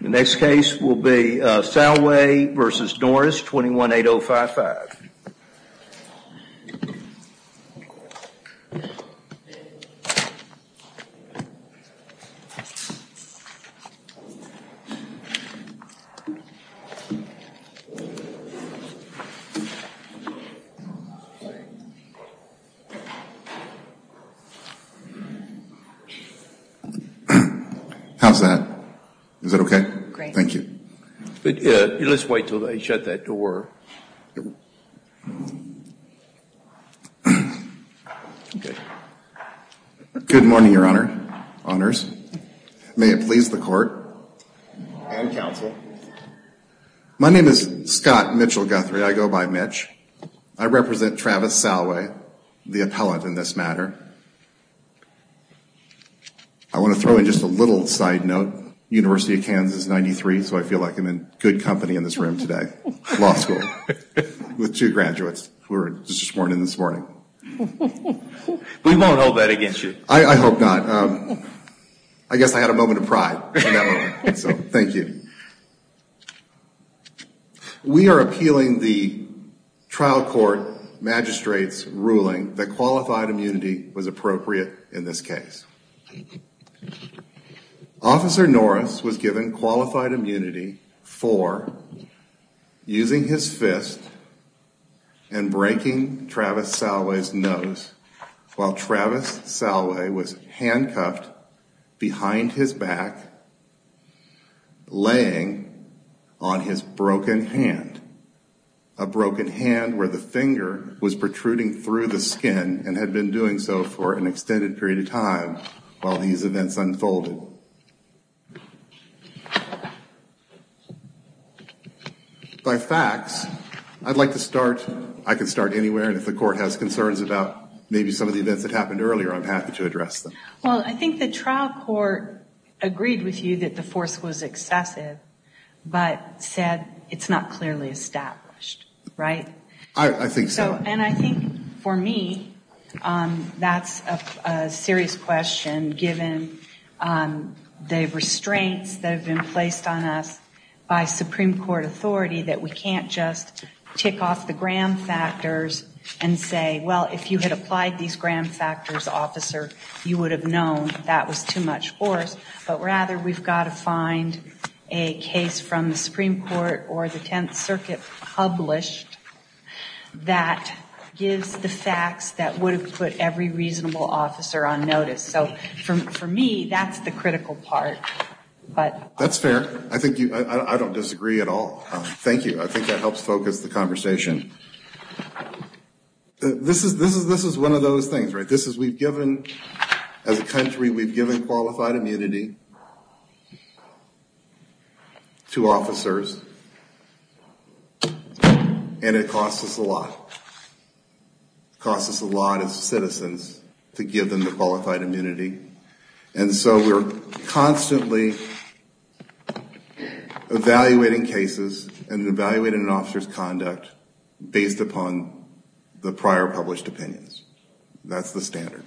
The next case will be Salway v. Norris 218055.. How's that? Is that okay? Great. Thank you. Let's wait until they shut that door. Okay. Good morning, your honor, honors. May it please the court and counsel. My name is Scott Mitchell Guthrie. I go by Mitch. I represent Travis Salway, the appellant in this matter. I want to throw in just a little side note. I'm from the University of Kansas, 93, so I feel like I'm in good company in this room today. Law school. With two graduates who were sworn in this morning. We won't hold that against you. I hope not. I guess I had a moment of pride in that moment. So, thank you. We are appealing the trial court magistrate's ruling that qualified immunity was appropriate in this case. Officer Norris was given qualified immunity for using his fist and breaking Travis Salway's nose while Travis Salway was handcuffed behind his back, laying on his broken hand. A broken hand where the finger was protruding through the skin and had been doing so for an hour while these events unfolded. By facts, I'd like to start, I can start anywhere, and if the court has concerns about maybe some of the events that happened earlier, I'm happy to address them. Well, I think the trial court agreed with you that the force was excessive, but said it's not clearly established. Right? I think so. And I think for me, that's a serious question given the restraints that have been placed on us by Supreme Court authority that we can't just tick off the gram factors and say, well, if you had applied these gram factors, officer, you would have known that was too much force. But rather, we've got to find a case from the Supreme Court or the Tenth Circuit published that gives the facts that would have put every reasonable officer on notice. So for me, that's the critical part. That's fair. I don't disagree at all. Thank you. I think that helps focus the conversation. This is one of those things, right? As a country, we've given qualified immunity to officers, and it costs us a lot. It costs us a lot as citizens to give them the qualified immunity. And so we're constantly evaluating cases and evaluating an officer's conduct based upon the prior published opinions. That's the standard.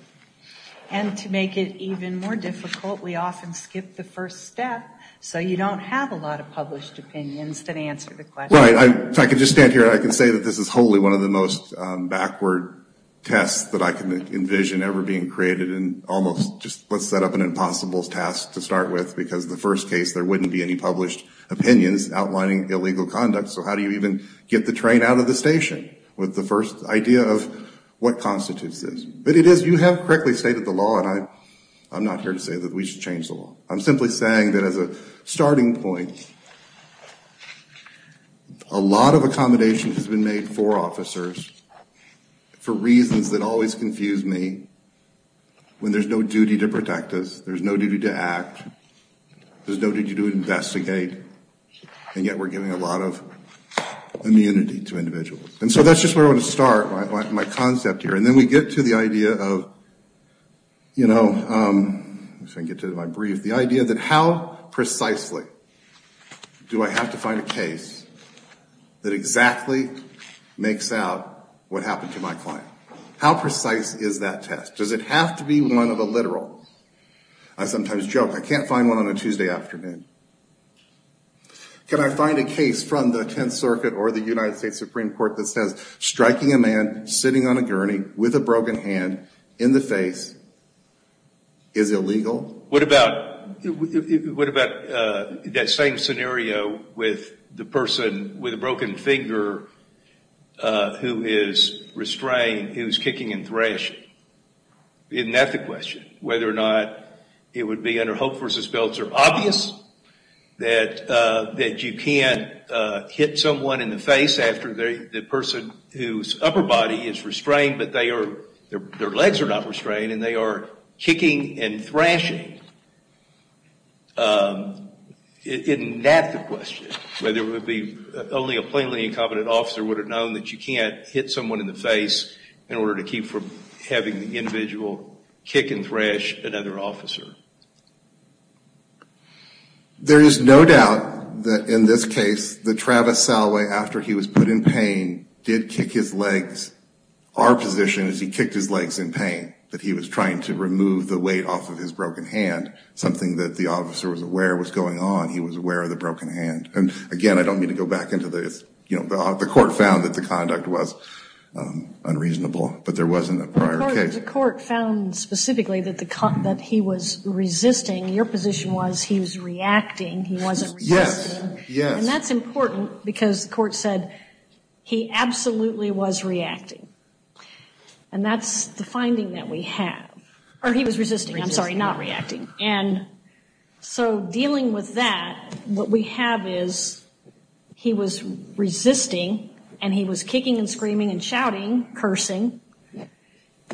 And to make it even more difficult, we often skip the first step so you don't have a lot of published opinions that answer the question. Right. If I could just stand here, I could say that this is wholly one of the most backward tests that I can envision ever being created and almost just let's set up an impossible task to start with because the first case, there wouldn't be any published opinions outlining illegal conduct. So how do you even get the train out of the station with the first idea of what constitutes this? But it is, you have correctly stated the law, and I'm not here to say that we should change the law. I'm simply saying that as a starting point, a lot of accommodations have been made for officers for reasons that always confuse me when there's no duty to protect us, there's no duty to act, there's no duty to investigate, and yet we're giving a lot of immunity to individuals. And so that's just where I want to start, my concept here. And then we get to the idea of, you know, if I can get to it in my brief, the idea that how precisely do I have to find a case that exactly makes out what happened to my client? How precise is that test? Does it have to be one of the literal? I sometimes joke I can't find one on a Tuesday afternoon. Can I find a case from the Tenth Circuit or the United States Supreme Court that says striking a man sitting on a gurney with a broken hand in the face is illegal? What about that same scenario with the person with a broken finger who is restrained, who's kicking and thrashing? Isn't that the question? Whether or not it would be under Hope v. Belts or obvious that you can't hit someone in the face after the person whose upper body is restrained but their legs are not restrained and they are kicking and thrashing? Isn't that the question? Whether it would be only a plainly incompetent officer would have known that you can't hit someone in the face in order to keep from having the individual kick and thrash another officer. There is no doubt that in this case that Travis Salway, after he was put in pain, did kick his legs. Our position is he kicked his legs in pain, that he was trying to remove the weight off of his broken hand, something that the officer was aware was going on. He was aware of the broken hand. Again, I don't mean to go back into this. The court found that the conduct was unreasonable, but there wasn't a prior case. The court found specifically that he was resisting. Your position was he was reacting. He wasn't resisting. Yes, yes. And that's important because the court said he absolutely was reacting. And that's the finding that we have. Or he was resisting, I'm sorry, not reacting. And so dealing with that, what we have is he was resisting and he was kicking and screaming and shouting, cursing,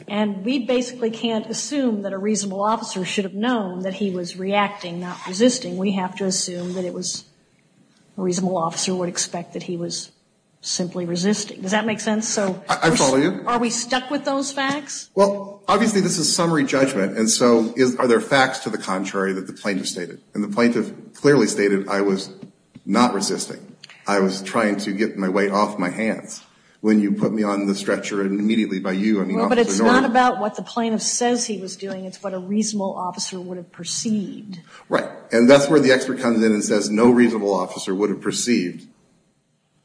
and we basically can't assume that a reasonable officer should have known that he was reacting, not resisting. We have to assume that it was a reasonable officer would expect that he was simply resisting. Does that make sense? I follow you. Are we stuck with those facts? Well, obviously this is summary judgment, and so are there facts to the contrary that the plaintiff stated? And the plaintiff clearly stated I was not resisting. I was trying to get my weight off my hands. When you put me on the stretcher immediately by you and the officer normally. Well, but it's not about what the plaintiff says he was doing. It's what a reasonable officer would have perceived. Right. And that's where the expert comes in and says no reasonable officer would have perceived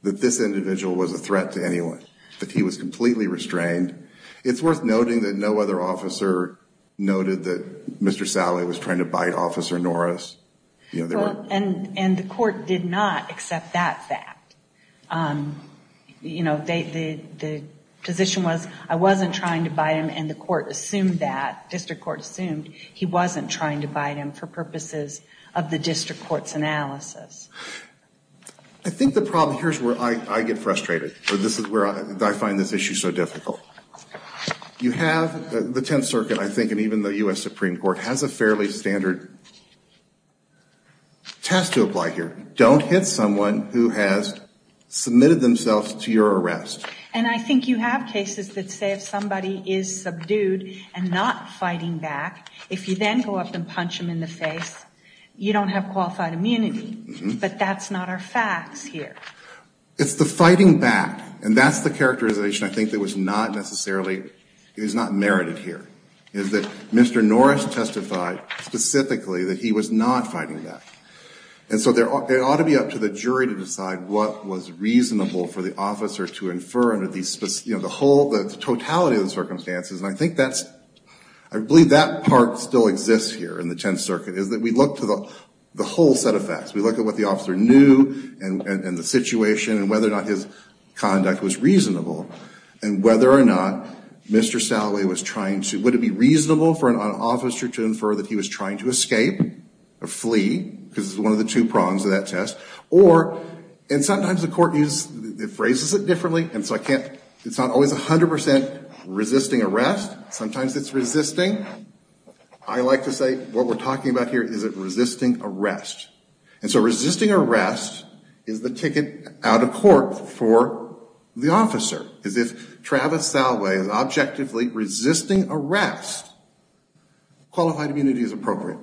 that this individual was a threat to anyone, that he was completely restrained. It's worth noting that no other officer noted that Mr. Sally was trying to bite Officer Norris. And the court did not accept that fact. You know, the position was I wasn't trying to bite him, and the court assumed that, district court assumed he wasn't trying to bite him for purposes of the district court's analysis. I think the problem, here's where I get frustrated, or this is where I find this issue so difficult. You have the Tenth Circuit, I think, and even the U.S. Supreme Court has a fairly standard test to apply here. Don't hit someone who has submitted themselves to your arrest. And I think you have cases that say if somebody is subdued and not fighting back, if you then go up and punch them in the face, you don't have qualified immunity. But that's not our facts here. It's the fighting back, and that's the characterization I think that was not necessarily, is not merited here, is that Mr. Norris testified specifically that he was not fighting back. And so it ought to be up to the jury to decide what was reasonable for the officer to infer under these, you know, the whole, the totality of the circumstances, and I think that's, I believe that part still exists here in the Tenth Circuit, is that we look to the whole set of facts. We look at what the officer knew and the situation and whether or not his conduct was reasonable and whether or not Mr. Salloway was trying to, would it be reasonable for an officer to infer that he was trying to escape or flee, because it's one of the two prongs of that test, or, and sometimes the court uses, it phrases it differently, and so I can't, it's not always 100% resisting arrest. Sometimes it's resisting. I like to say what we're talking about here is resisting arrest. And so resisting arrest is the ticket out of court for the officer, because if Travis Salloway is objectively resisting arrest, qualified immunity is appropriate.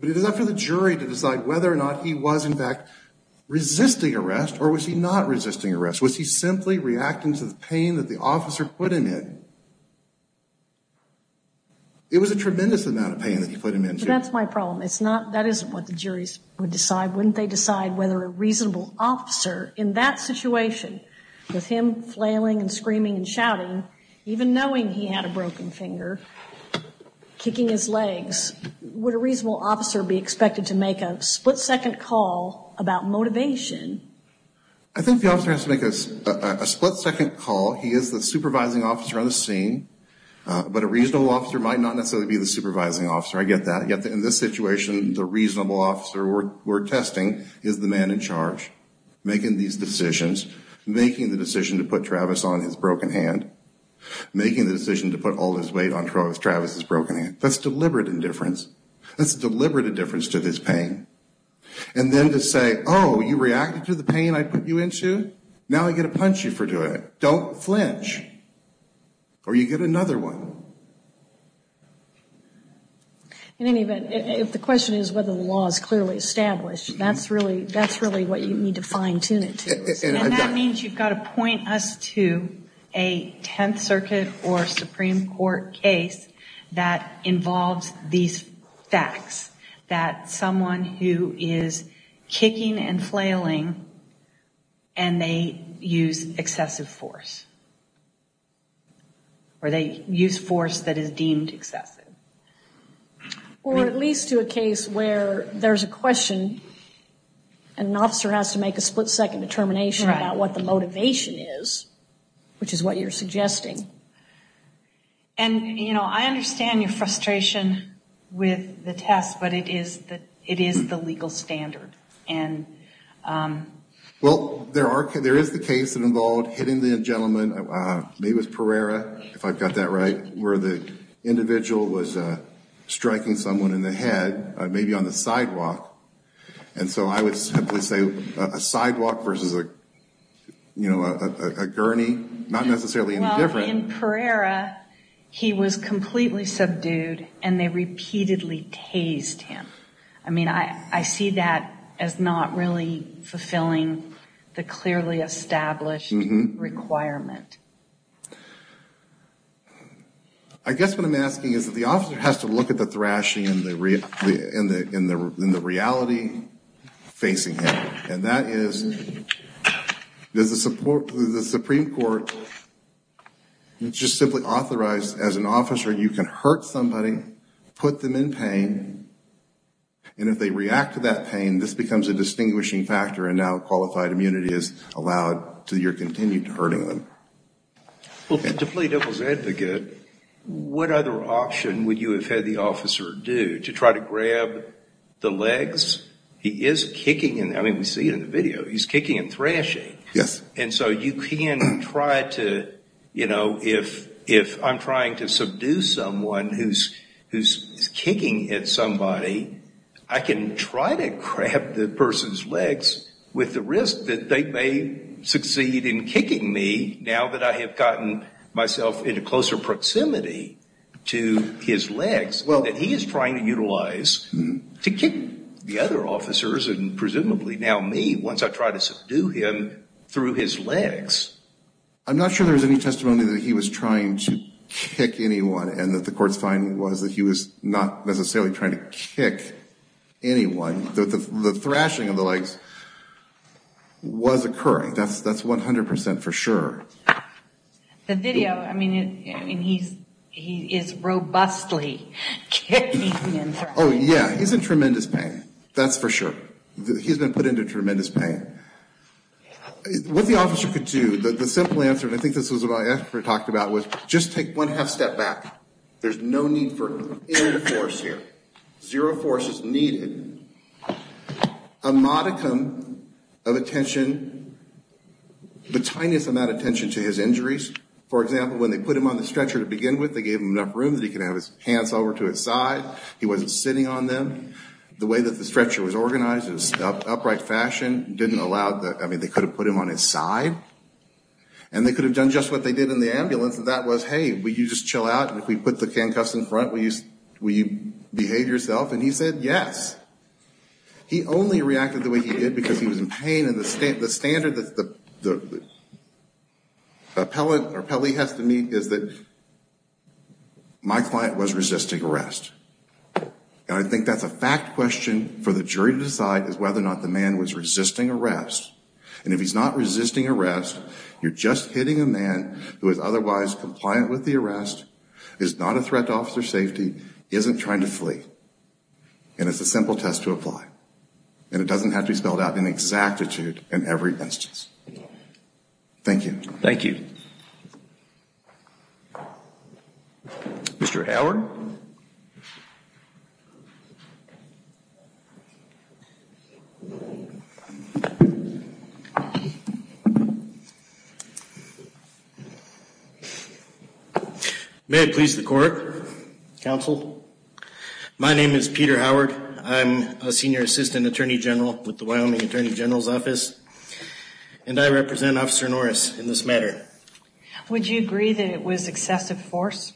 But it is up to the jury to decide whether or not he was in fact resisting arrest or was he not resisting arrest. Was he simply reacting to the pain that the officer put him in? It was a tremendous amount of pain that he put him into. But that's my problem. It's not, that isn't what the juries would decide. Wouldn't they decide whether a reasonable officer in that situation, with him flailing and screaming and shouting, even knowing he had a broken finger, kicking his legs, would a reasonable officer be expected to make a split-second call about motivation? I think the officer has to make a split-second call. He is the supervising officer on the scene. But a reasonable officer might not necessarily be the supervising officer. I get that. Yet in this situation, the reasonable officer we're testing is the man in charge, making these decisions, making the decision to put Travis on his broken hand, making the decision to put all his weight on Travis's broken hand. That's deliberate indifference. That's deliberate indifference to this pain. And then to say, oh, you reacted to the pain I put you into? Now I'm going to punch you for doing it. Don't flinch. Or you get another one. In any event, if the question is whether the law is clearly established, that's really what you need to fine-tune it to. And that means you've got to point us to a Tenth Circuit or Supreme Court case that involves these facts, that someone who is kicking and flailing and they use excessive force. Or they use force that is deemed excessive. Or at least to a case where there's a question and an officer has to make a split-second determination about what the motivation is, which is what you're suggesting. And, you know, I understand your frustration with the test, but it is the legal standard. Well, there is the case that involved hitting the gentleman, maybe it was Pereira, if I've got that right, where the individual was striking someone in the head, maybe on the sidewalk. And so I would simply say a sidewalk versus, you know, a gurney, not necessarily any different. Well, in Pereira, he was completely subdued and they repeatedly tased him. I mean, I see that as not really fulfilling the clearly established requirement. I guess what I'm asking is that the officer has to look at the thrashing and the reality facing him. And that is, does the Supreme Court just simply authorize, as an officer, you can hurt somebody, put them in pain, and if they react to that pain, this becomes a distinguishing factor and now qualified immunity is allowed to your continued hurting them. Well, to play devil's advocate, what other option would you have had the officer do to try to grab the legs? He is kicking and, I mean, we see it in the video, he's kicking and thrashing. Yes. And so you can try to, you know, if I'm trying to subdue someone who's kicking at somebody, I can try to grab the person's legs with the risk that they may succeed in kicking me now that I have gotten myself into closer proximity to his legs that he is trying to utilize to kick the other officers and presumably now me once I try to subdue him through his legs. I'm not sure there was any testimony that he was trying to kick anyone and that the court's finding was that he was not necessarily trying to kick anyone. The thrashing of the legs was occurring. That's 100% for sure. The video, I mean, he is robustly kicking and thrashing. Oh, yeah, he's in tremendous pain. That's for sure. He's been put into tremendous pain. What the officer could do, the simple answer, and I think this is what I asked for and talked about, was just take one half step back. There's no need for any force here. Zero force is needed. A modicum of attention, the tiniest amount of attention to his injuries. For example, when they put him on the stretcher to begin with, they gave him enough room that he could have his hands over to his side. He wasn't sitting on them. The way that the stretcher was organized in an upright fashion didn't allow that. I mean, they could have put him on his side, and they could have done just what they did in the ambulance, and that was, hey, will you just chill out? If we put the can cuffs in front, will you behave yourself? And he said yes. He only reacted the way he did because he was in pain, and the standard that the appellee has to meet is that my client was resisting arrest. And I think that's a fact question for the jury to decide, is whether or not the man was resisting arrest. And if he's not resisting arrest, you're just hitting a man who is otherwise compliant with the arrest, is not a threat to officer safety, isn't trying to flee. And it's a simple test to apply. And it doesn't have to be spelled out in exactitude in every instance. Thank you. Thank you. Mr. Howard. May it please the court, counsel. My name is Peter Howard. I'm a senior assistant attorney general with the Wyoming Attorney General's Office, and I represent Officer Norris in this matter. Would you agree that it was excessive force?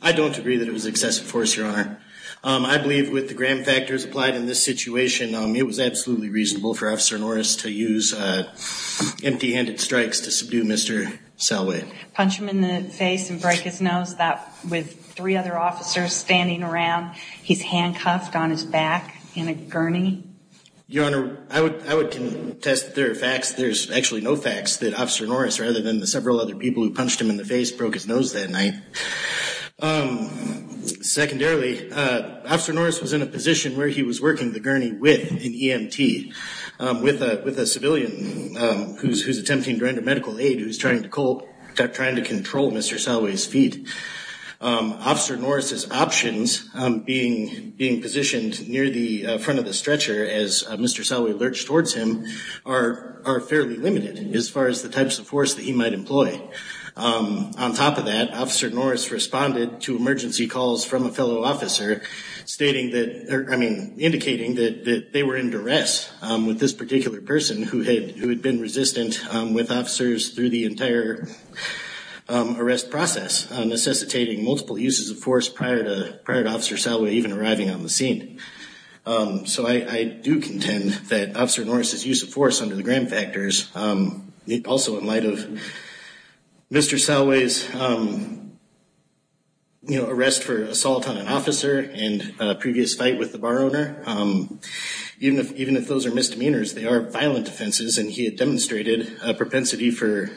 I don't agree that it was excessive force, Your Honor. I believe with the gram factors applied in this situation, it was absolutely reasonable for Officer Norris to use empty-handed strikes to subdue Mr. Salway. Punch him in the face and break his nose with three other officers standing around? He's handcuffed on his back in a gurney? Your Honor, I would contest that there are facts. I would contest that Officer Norris, rather than the several other people who punched him in the face, broke his nose that night. Secondarily, Officer Norris was in a position where he was working the gurney with an EMT, with a civilian who's attempting to render medical aid who's trying to control Mr. Salway's feet. Officer Norris's options, being positioned near the front of the stretcher as Mr. Salway lurched towards him, are fairly limited as far as the types of force that he might employ. On top of that, Officer Norris responded to emergency calls from a fellow officer, indicating that they were in duress with this particular person, who had been resistant with officers through the entire arrest process, necessitating multiple uses of force prior to Officer Salway even arriving on the scene. So I do contend that Officer Norris's use of force under the Graham factors, also in light of Mr. Salway's arrest for assault on an officer and a previous fight with the bar owner, even if those are misdemeanors, they are violent offenses, and he had demonstrated a propensity for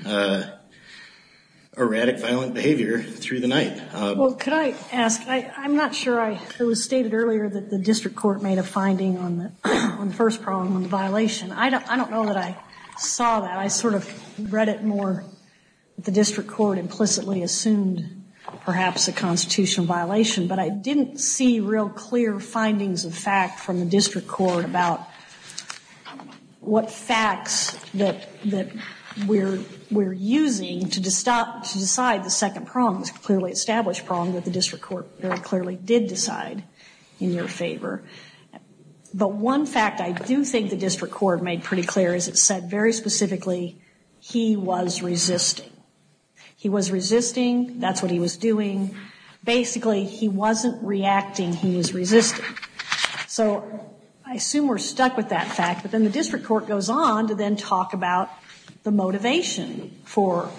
erratic, violent behavior through the night. Well, could I ask? I'm not sure. It was stated earlier that the district court made a finding on the first problem, on the violation. I don't know that I saw that. I sort of read it more that the district court implicitly assumed perhaps a constitutional violation, but I didn't see real clear findings of fact from the district court about what facts that we're using to decide the second problem, the clearly established problem that the district court very clearly did decide in your favor. But one fact I do think the district court made pretty clear is it said very specifically, he was resisting. He was resisting. That's what he was doing. Basically, he wasn't reacting. He was resisting. So I assume we're stuck with that fact, but then the district court goes on to then talk about the motivation for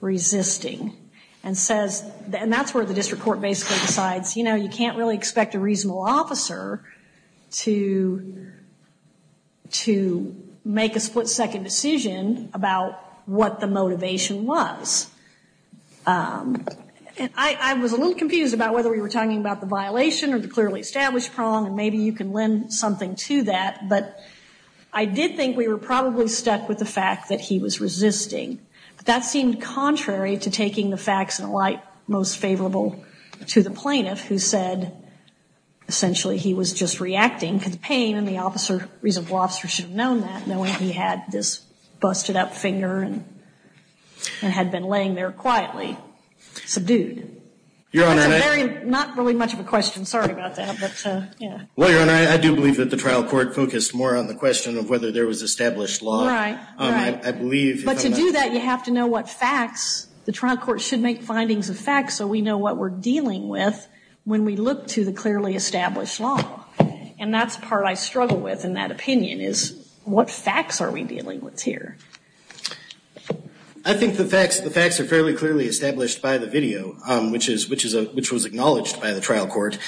resisting, and that's where the district court basically decides, you know, you can't really expect a reasonable officer to make a split-second decision about what the motivation was. I was a little confused about whether we were talking about the violation or the clearly established problem, and maybe you can lend something to that. But I did think we were probably stuck with the fact that he was resisting. But that seemed contrary to taking the facts in a light most favorable to the plaintiff, who said essentially he was just reacting to the pain, and the reasonable officer should have known that, knowing he had this busted-up finger and had been laying there quietly subdued. Your Honor, may I? Not really much of a question. Sorry about that. Well, Your Honor, I do believe that the trial court focused more on the question of whether there was established law. Right, right. But to do that, you have to know what facts. The trial court should make findings of facts so we know what we're dealing with when we look to the clearly established law. And that's the part I struggle with in that opinion, is what facts are we dealing with here? I think the facts are fairly clearly established by the video, which was acknowledged by the trial court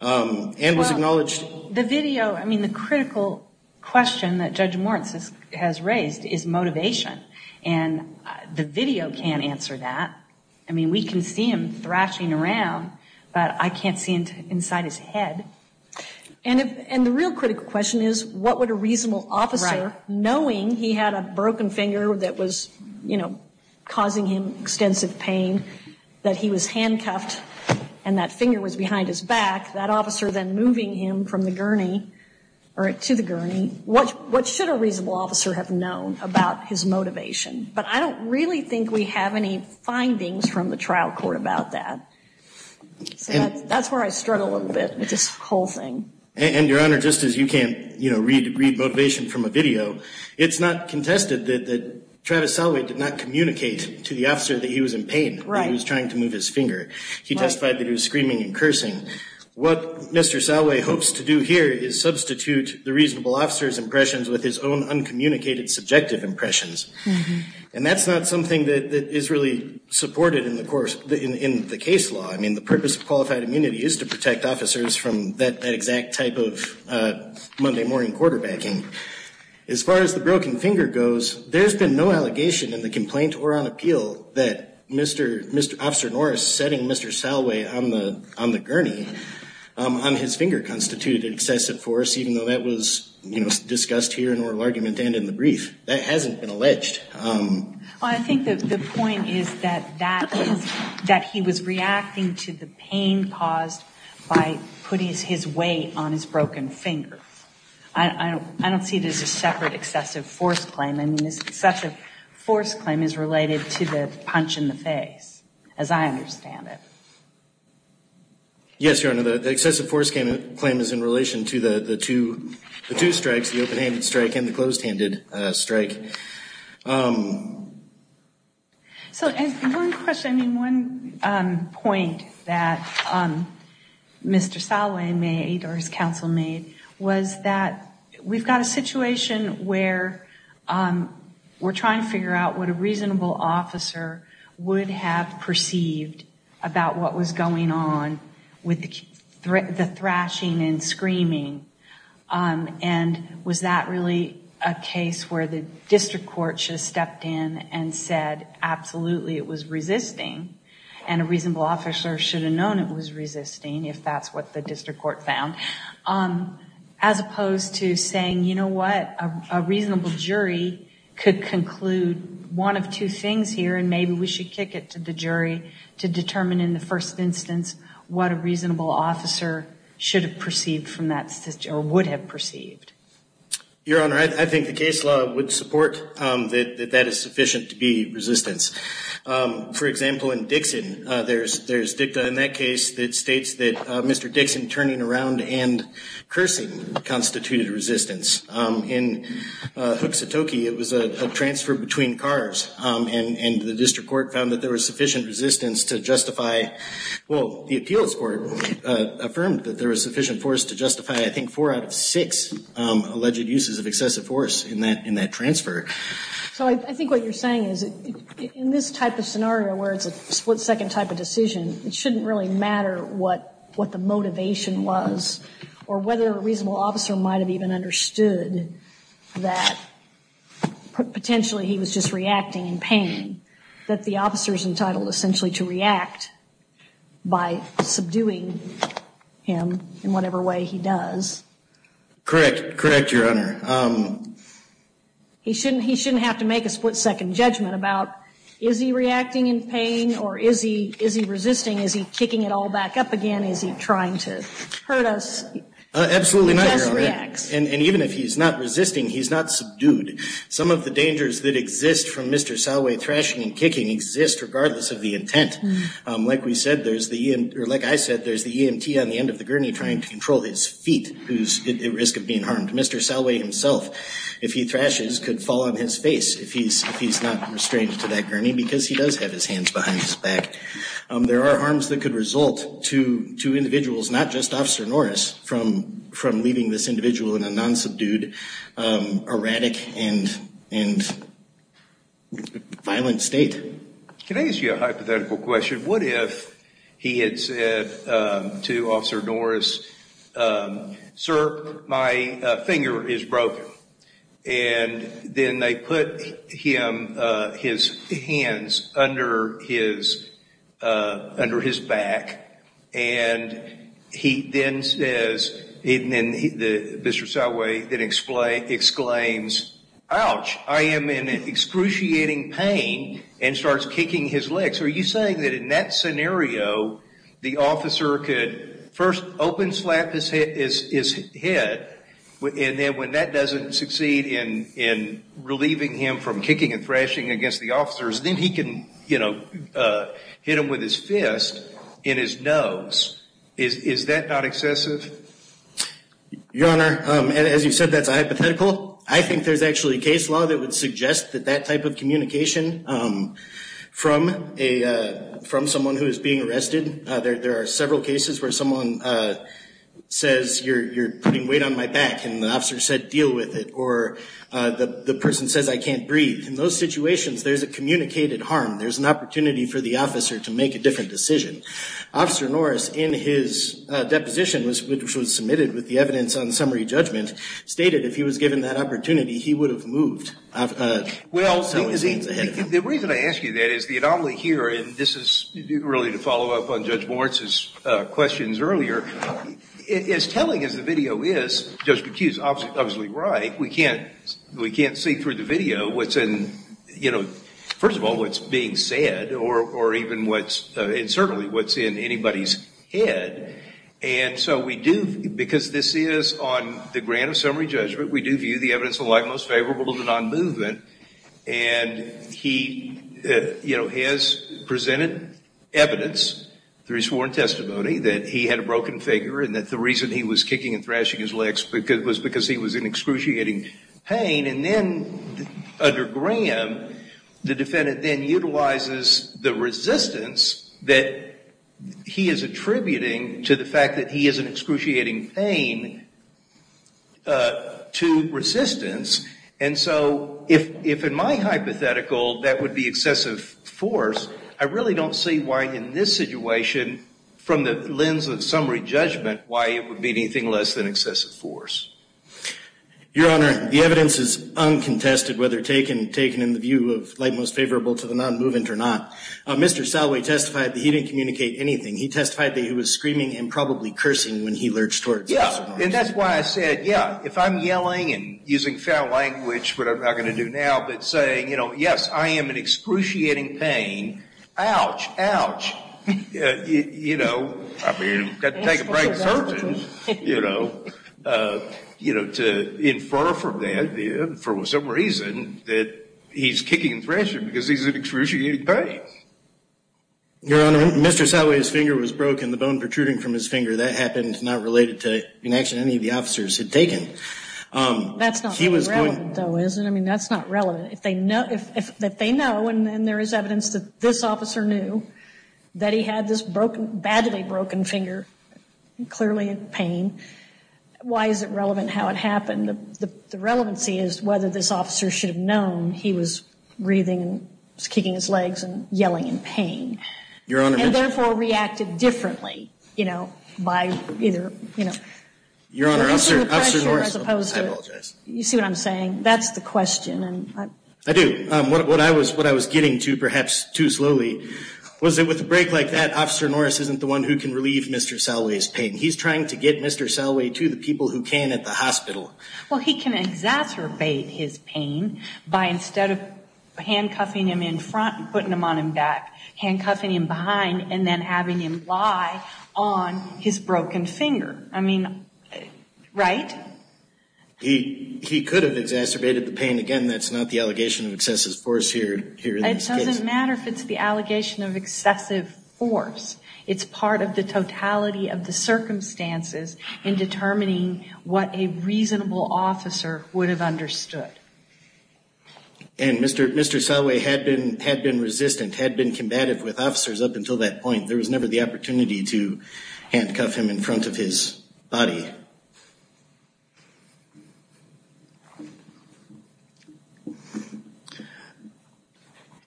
and was acknowledged. Well, the video, I mean, the critical question that Judge Moritz has raised is motivation, and the video can't answer that. I mean, we can see him thrashing around, but I can't see inside his head. And the real critical question is what would a reasonable officer, knowing he had a broken finger that was causing him extensive pain, that he was handcuffed and that finger was behind his back, that officer then moving him from the gurney or to the gurney, what should a reasonable officer have known about his motivation? But I don't really think we have any findings from the trial court about that. So that's where I struggle a little bit with this whole thing. And, Your Honor, just as you can't read motivation from a video, it's not contested that Travis Salway did not communicate to the officer that he was in pain, that he was trying to move his finger. He testified that he was screaming and cursing. What Mr. Salway hopes to do here is substitute the reasonable officer's impressions with his own uncommunicated subjective impressions. And that's not something that is really supported in the case law. I mean, the purpose of qualified immunity is to protect officers from that exact type of Monday morning quarterbacking. As far as the broken finger goes, there's been no allegation in the complaint or on appeal that Officer Norris setting Mr. Salway on the gurney, on his finger constituted excessive force, even though that was discussed here in oral argument and in the brief. That hasn't been alleged. Well, I think the point is that he was reacting to the pain caused by putting his weight on his broken finger. I don't see it as a separate excessive force claim. I mean, the excessive force claim is related to the punch in the face, as I understand it. Yes, Your Honor, the excessive force claim is in relation to the two strikes, the open-handed strike and the closed-handed strike. One point that Mr. Salway made or his counsel made was that we've got a situation where we're trying to figure out what a reasonable officer would have perceived about what was going on with the thrashing and screaming. Was that really a case where the district court should have stepped in and said, absolutely, it was resisting, and a reasonable officer should have known it was resisting, if that's what the district court found, as opposed to saying, you know what, a reasonable jury could conclude one of two things here and maybe we should kick it to the jury to determine in the first instance what a reasonable officer should have perceived from that situation or would have perceived. Your Honor, I think the case law would support that that is sufficient to be resistance. For example, in Dixon, there's dicta in that case that states that Mr. Dixon turning around and cursing constituted resistance. In Hook Satoki, it was a transfer between cars, and the district court found that there was sufficient resistance to justify, well, the appeals court affirmed that there was sufficient force to justify, I think, four out of six alleged uses of excessive force in that transfer. So I think what you're saying is in this type of scenario where it's a split-second type of decision, it shouldn't really matter what the motivation was or whether a reasonable officer might have even understood that potentially he was just reacting in pain, that the officer is entitled essentially to react by subduing him in whatever way he does. Correct. Correct, Your Honor. He shouldn't have to make a split-second judgment about is he reacting in pain or is he resisting? Is he kicking it all back up again? Is he trying to hurt us? Absolutely not, Your Honor. He just reacts. And even if he's not resisting, he's not subdued. Some of the dangers that exist from Mr. Salway thrashing and kicking exist regardless of the intent. Like I said, there's the EMT on the end of the gurney trying to control his feet who's at risk of being harmed. Mr. Salway himself, if he thrashes, could fall on his face if he's not restrained to that gurney because he does have his hands behind his back. There are harms that could result to individuals, not just Officer Norris, from leaving this individual in a non-subdued, erratic, and violent state. Can I ask you a hypothetical question? What if he had said to Officer Norris, sir, my finger is broken, and then they put his hands under his back, and he then says, and Mr. Salway then exclaims, ouch, I am in excruciating pain, and starts kicking his legs. Are you saying that in that scenario, the officer could first open slap his head, and then when that doesn't succeed in relieving him from kicking and thrashing against the officers, then he can hit him with his fist in his nose. Is that not excessive? Your Honor, as you said, that's a hypothetical. I think there's actually a case law that would suggest that that type of communication from someone who is being arrested. There are several cases where someone says, you're putting weight on my back, and the officer said, deal with it, or the person says, I can't breathe. In those situations, there's a communicated harm. There's an opportunity for the officer to make a different decision. Officer Norris, in his deposition, which was submitted with the evidence on summary judgment, stated if he was given that opportunity, he would have moved. Well, the reason I ask you that is the anomaly here, and this is really to follow up on Judge Moritz's questions earlier, as telling as the video is, Judge McHugh is obviously right, we can't see through the video what's in, you know, first of all, what's being said, or even what's, and certainly what's in anybody's head, and so we do, because this is on the grant of summary judgment, we do view the evidence in the light most favorable to non-movement, and he, you know, has presented evidence through his sworn testimony that he had a broken finger and that the reason he was kicking and thrashing his legs was because he was in excruciating pain, and then under Graham, the defendant then utilizes the resistance that he is attributing to the fact that he is in excruciating pain to resistance, and so if in my hypothetical that would be excessive force, I really don't see why in this situation, from the lens of summary judgment, why it would be anything less than excessive force. Your Honor, the evidence is uncontested, whether taken in the view of light most favorable to the non-movement or not. Mr. Salway testified that he didn't communicate anything. He testified that he was screaming and probably cursing when he lurched toward Judge Moritz. Yeah, and that's why I said, yeah, if I'm yelling and using foul language, which I'm not going to do now, but saying, you know, yes, I am in excruciating pain, ouch, ouch, you know, I've got to take a break, surgeon, you know, to infer from that for some reason that he's kicking and thrashing because he's in excruciating pain. Your Honor, Mr. Salway's finger was broken, the bone protruding from his finger. That happened not related to an action any of the officers had taken. That's not relevant, though, is it? I mean, that's not relevant. If they know and there is evidence that this officer knew that he had this badly broken finger, clearly in pain, why is it relevant how it happened? The relevancy is whether this officer should have known he was breathing and kicking his legs and yelling in pain. Your Honor. And therefore reacted differently, you know, by either, you know. Your Honor, I'm sorry. I apologize. You see what I'm saying? That's the question. I do. What I was getting to, perhaps too slowly, was that with a break like that, Officer Norris isn't the one who can relieve Mr. Salway's pain. He's trying to get Mr. Salway to the people who can at the hospital. Well, he can exacerbate his pain by instead of handcuffing him in front and putting him on his back, handcuffing him behind and then having him lie on his broken finger. I mean, right? He could have exacerbated the pain. Again, that's not the allegation of excessive force here. It doesn't matter if it's the allegation of excessive force. It's part of the totality of the circumstances in determining what a reasonable officer would have understood. And Mr. Salway had been resistant, had been combative with officers up until that point. There was never the opportunity to handcuff him in front of his body.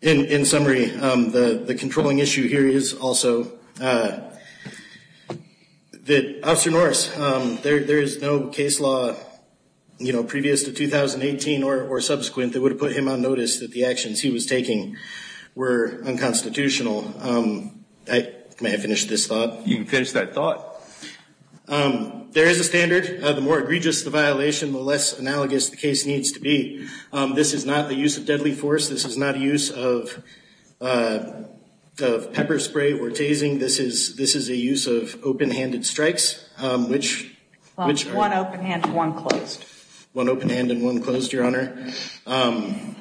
In summary, the controlling issue here is also that Officer Norris, there is no case law previous to 2018 or subsequent that would have put him on notice that the actions he was taking were unconstitutional. May I finish this thought? You can finish that thought. There is a standard. The more egregious the violation, the less analogous the case needs to be. This is not the use of deadly force. This is not a use of pepper spray or tasing. This is a use of open-handed strikes. One open-handed and one closed. One open-handed and one closed, Your Honor. And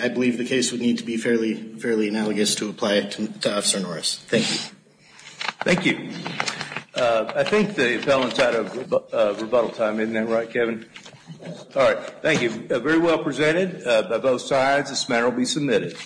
I believe the case would need to be fairly analogous to apply it to Officer Norris. Thank you. Thank you. I think the appellant had a rebuttal time. Isn't that right, Kevin? All right. Thank you. Very well presented by both sides. This matter will be submitted.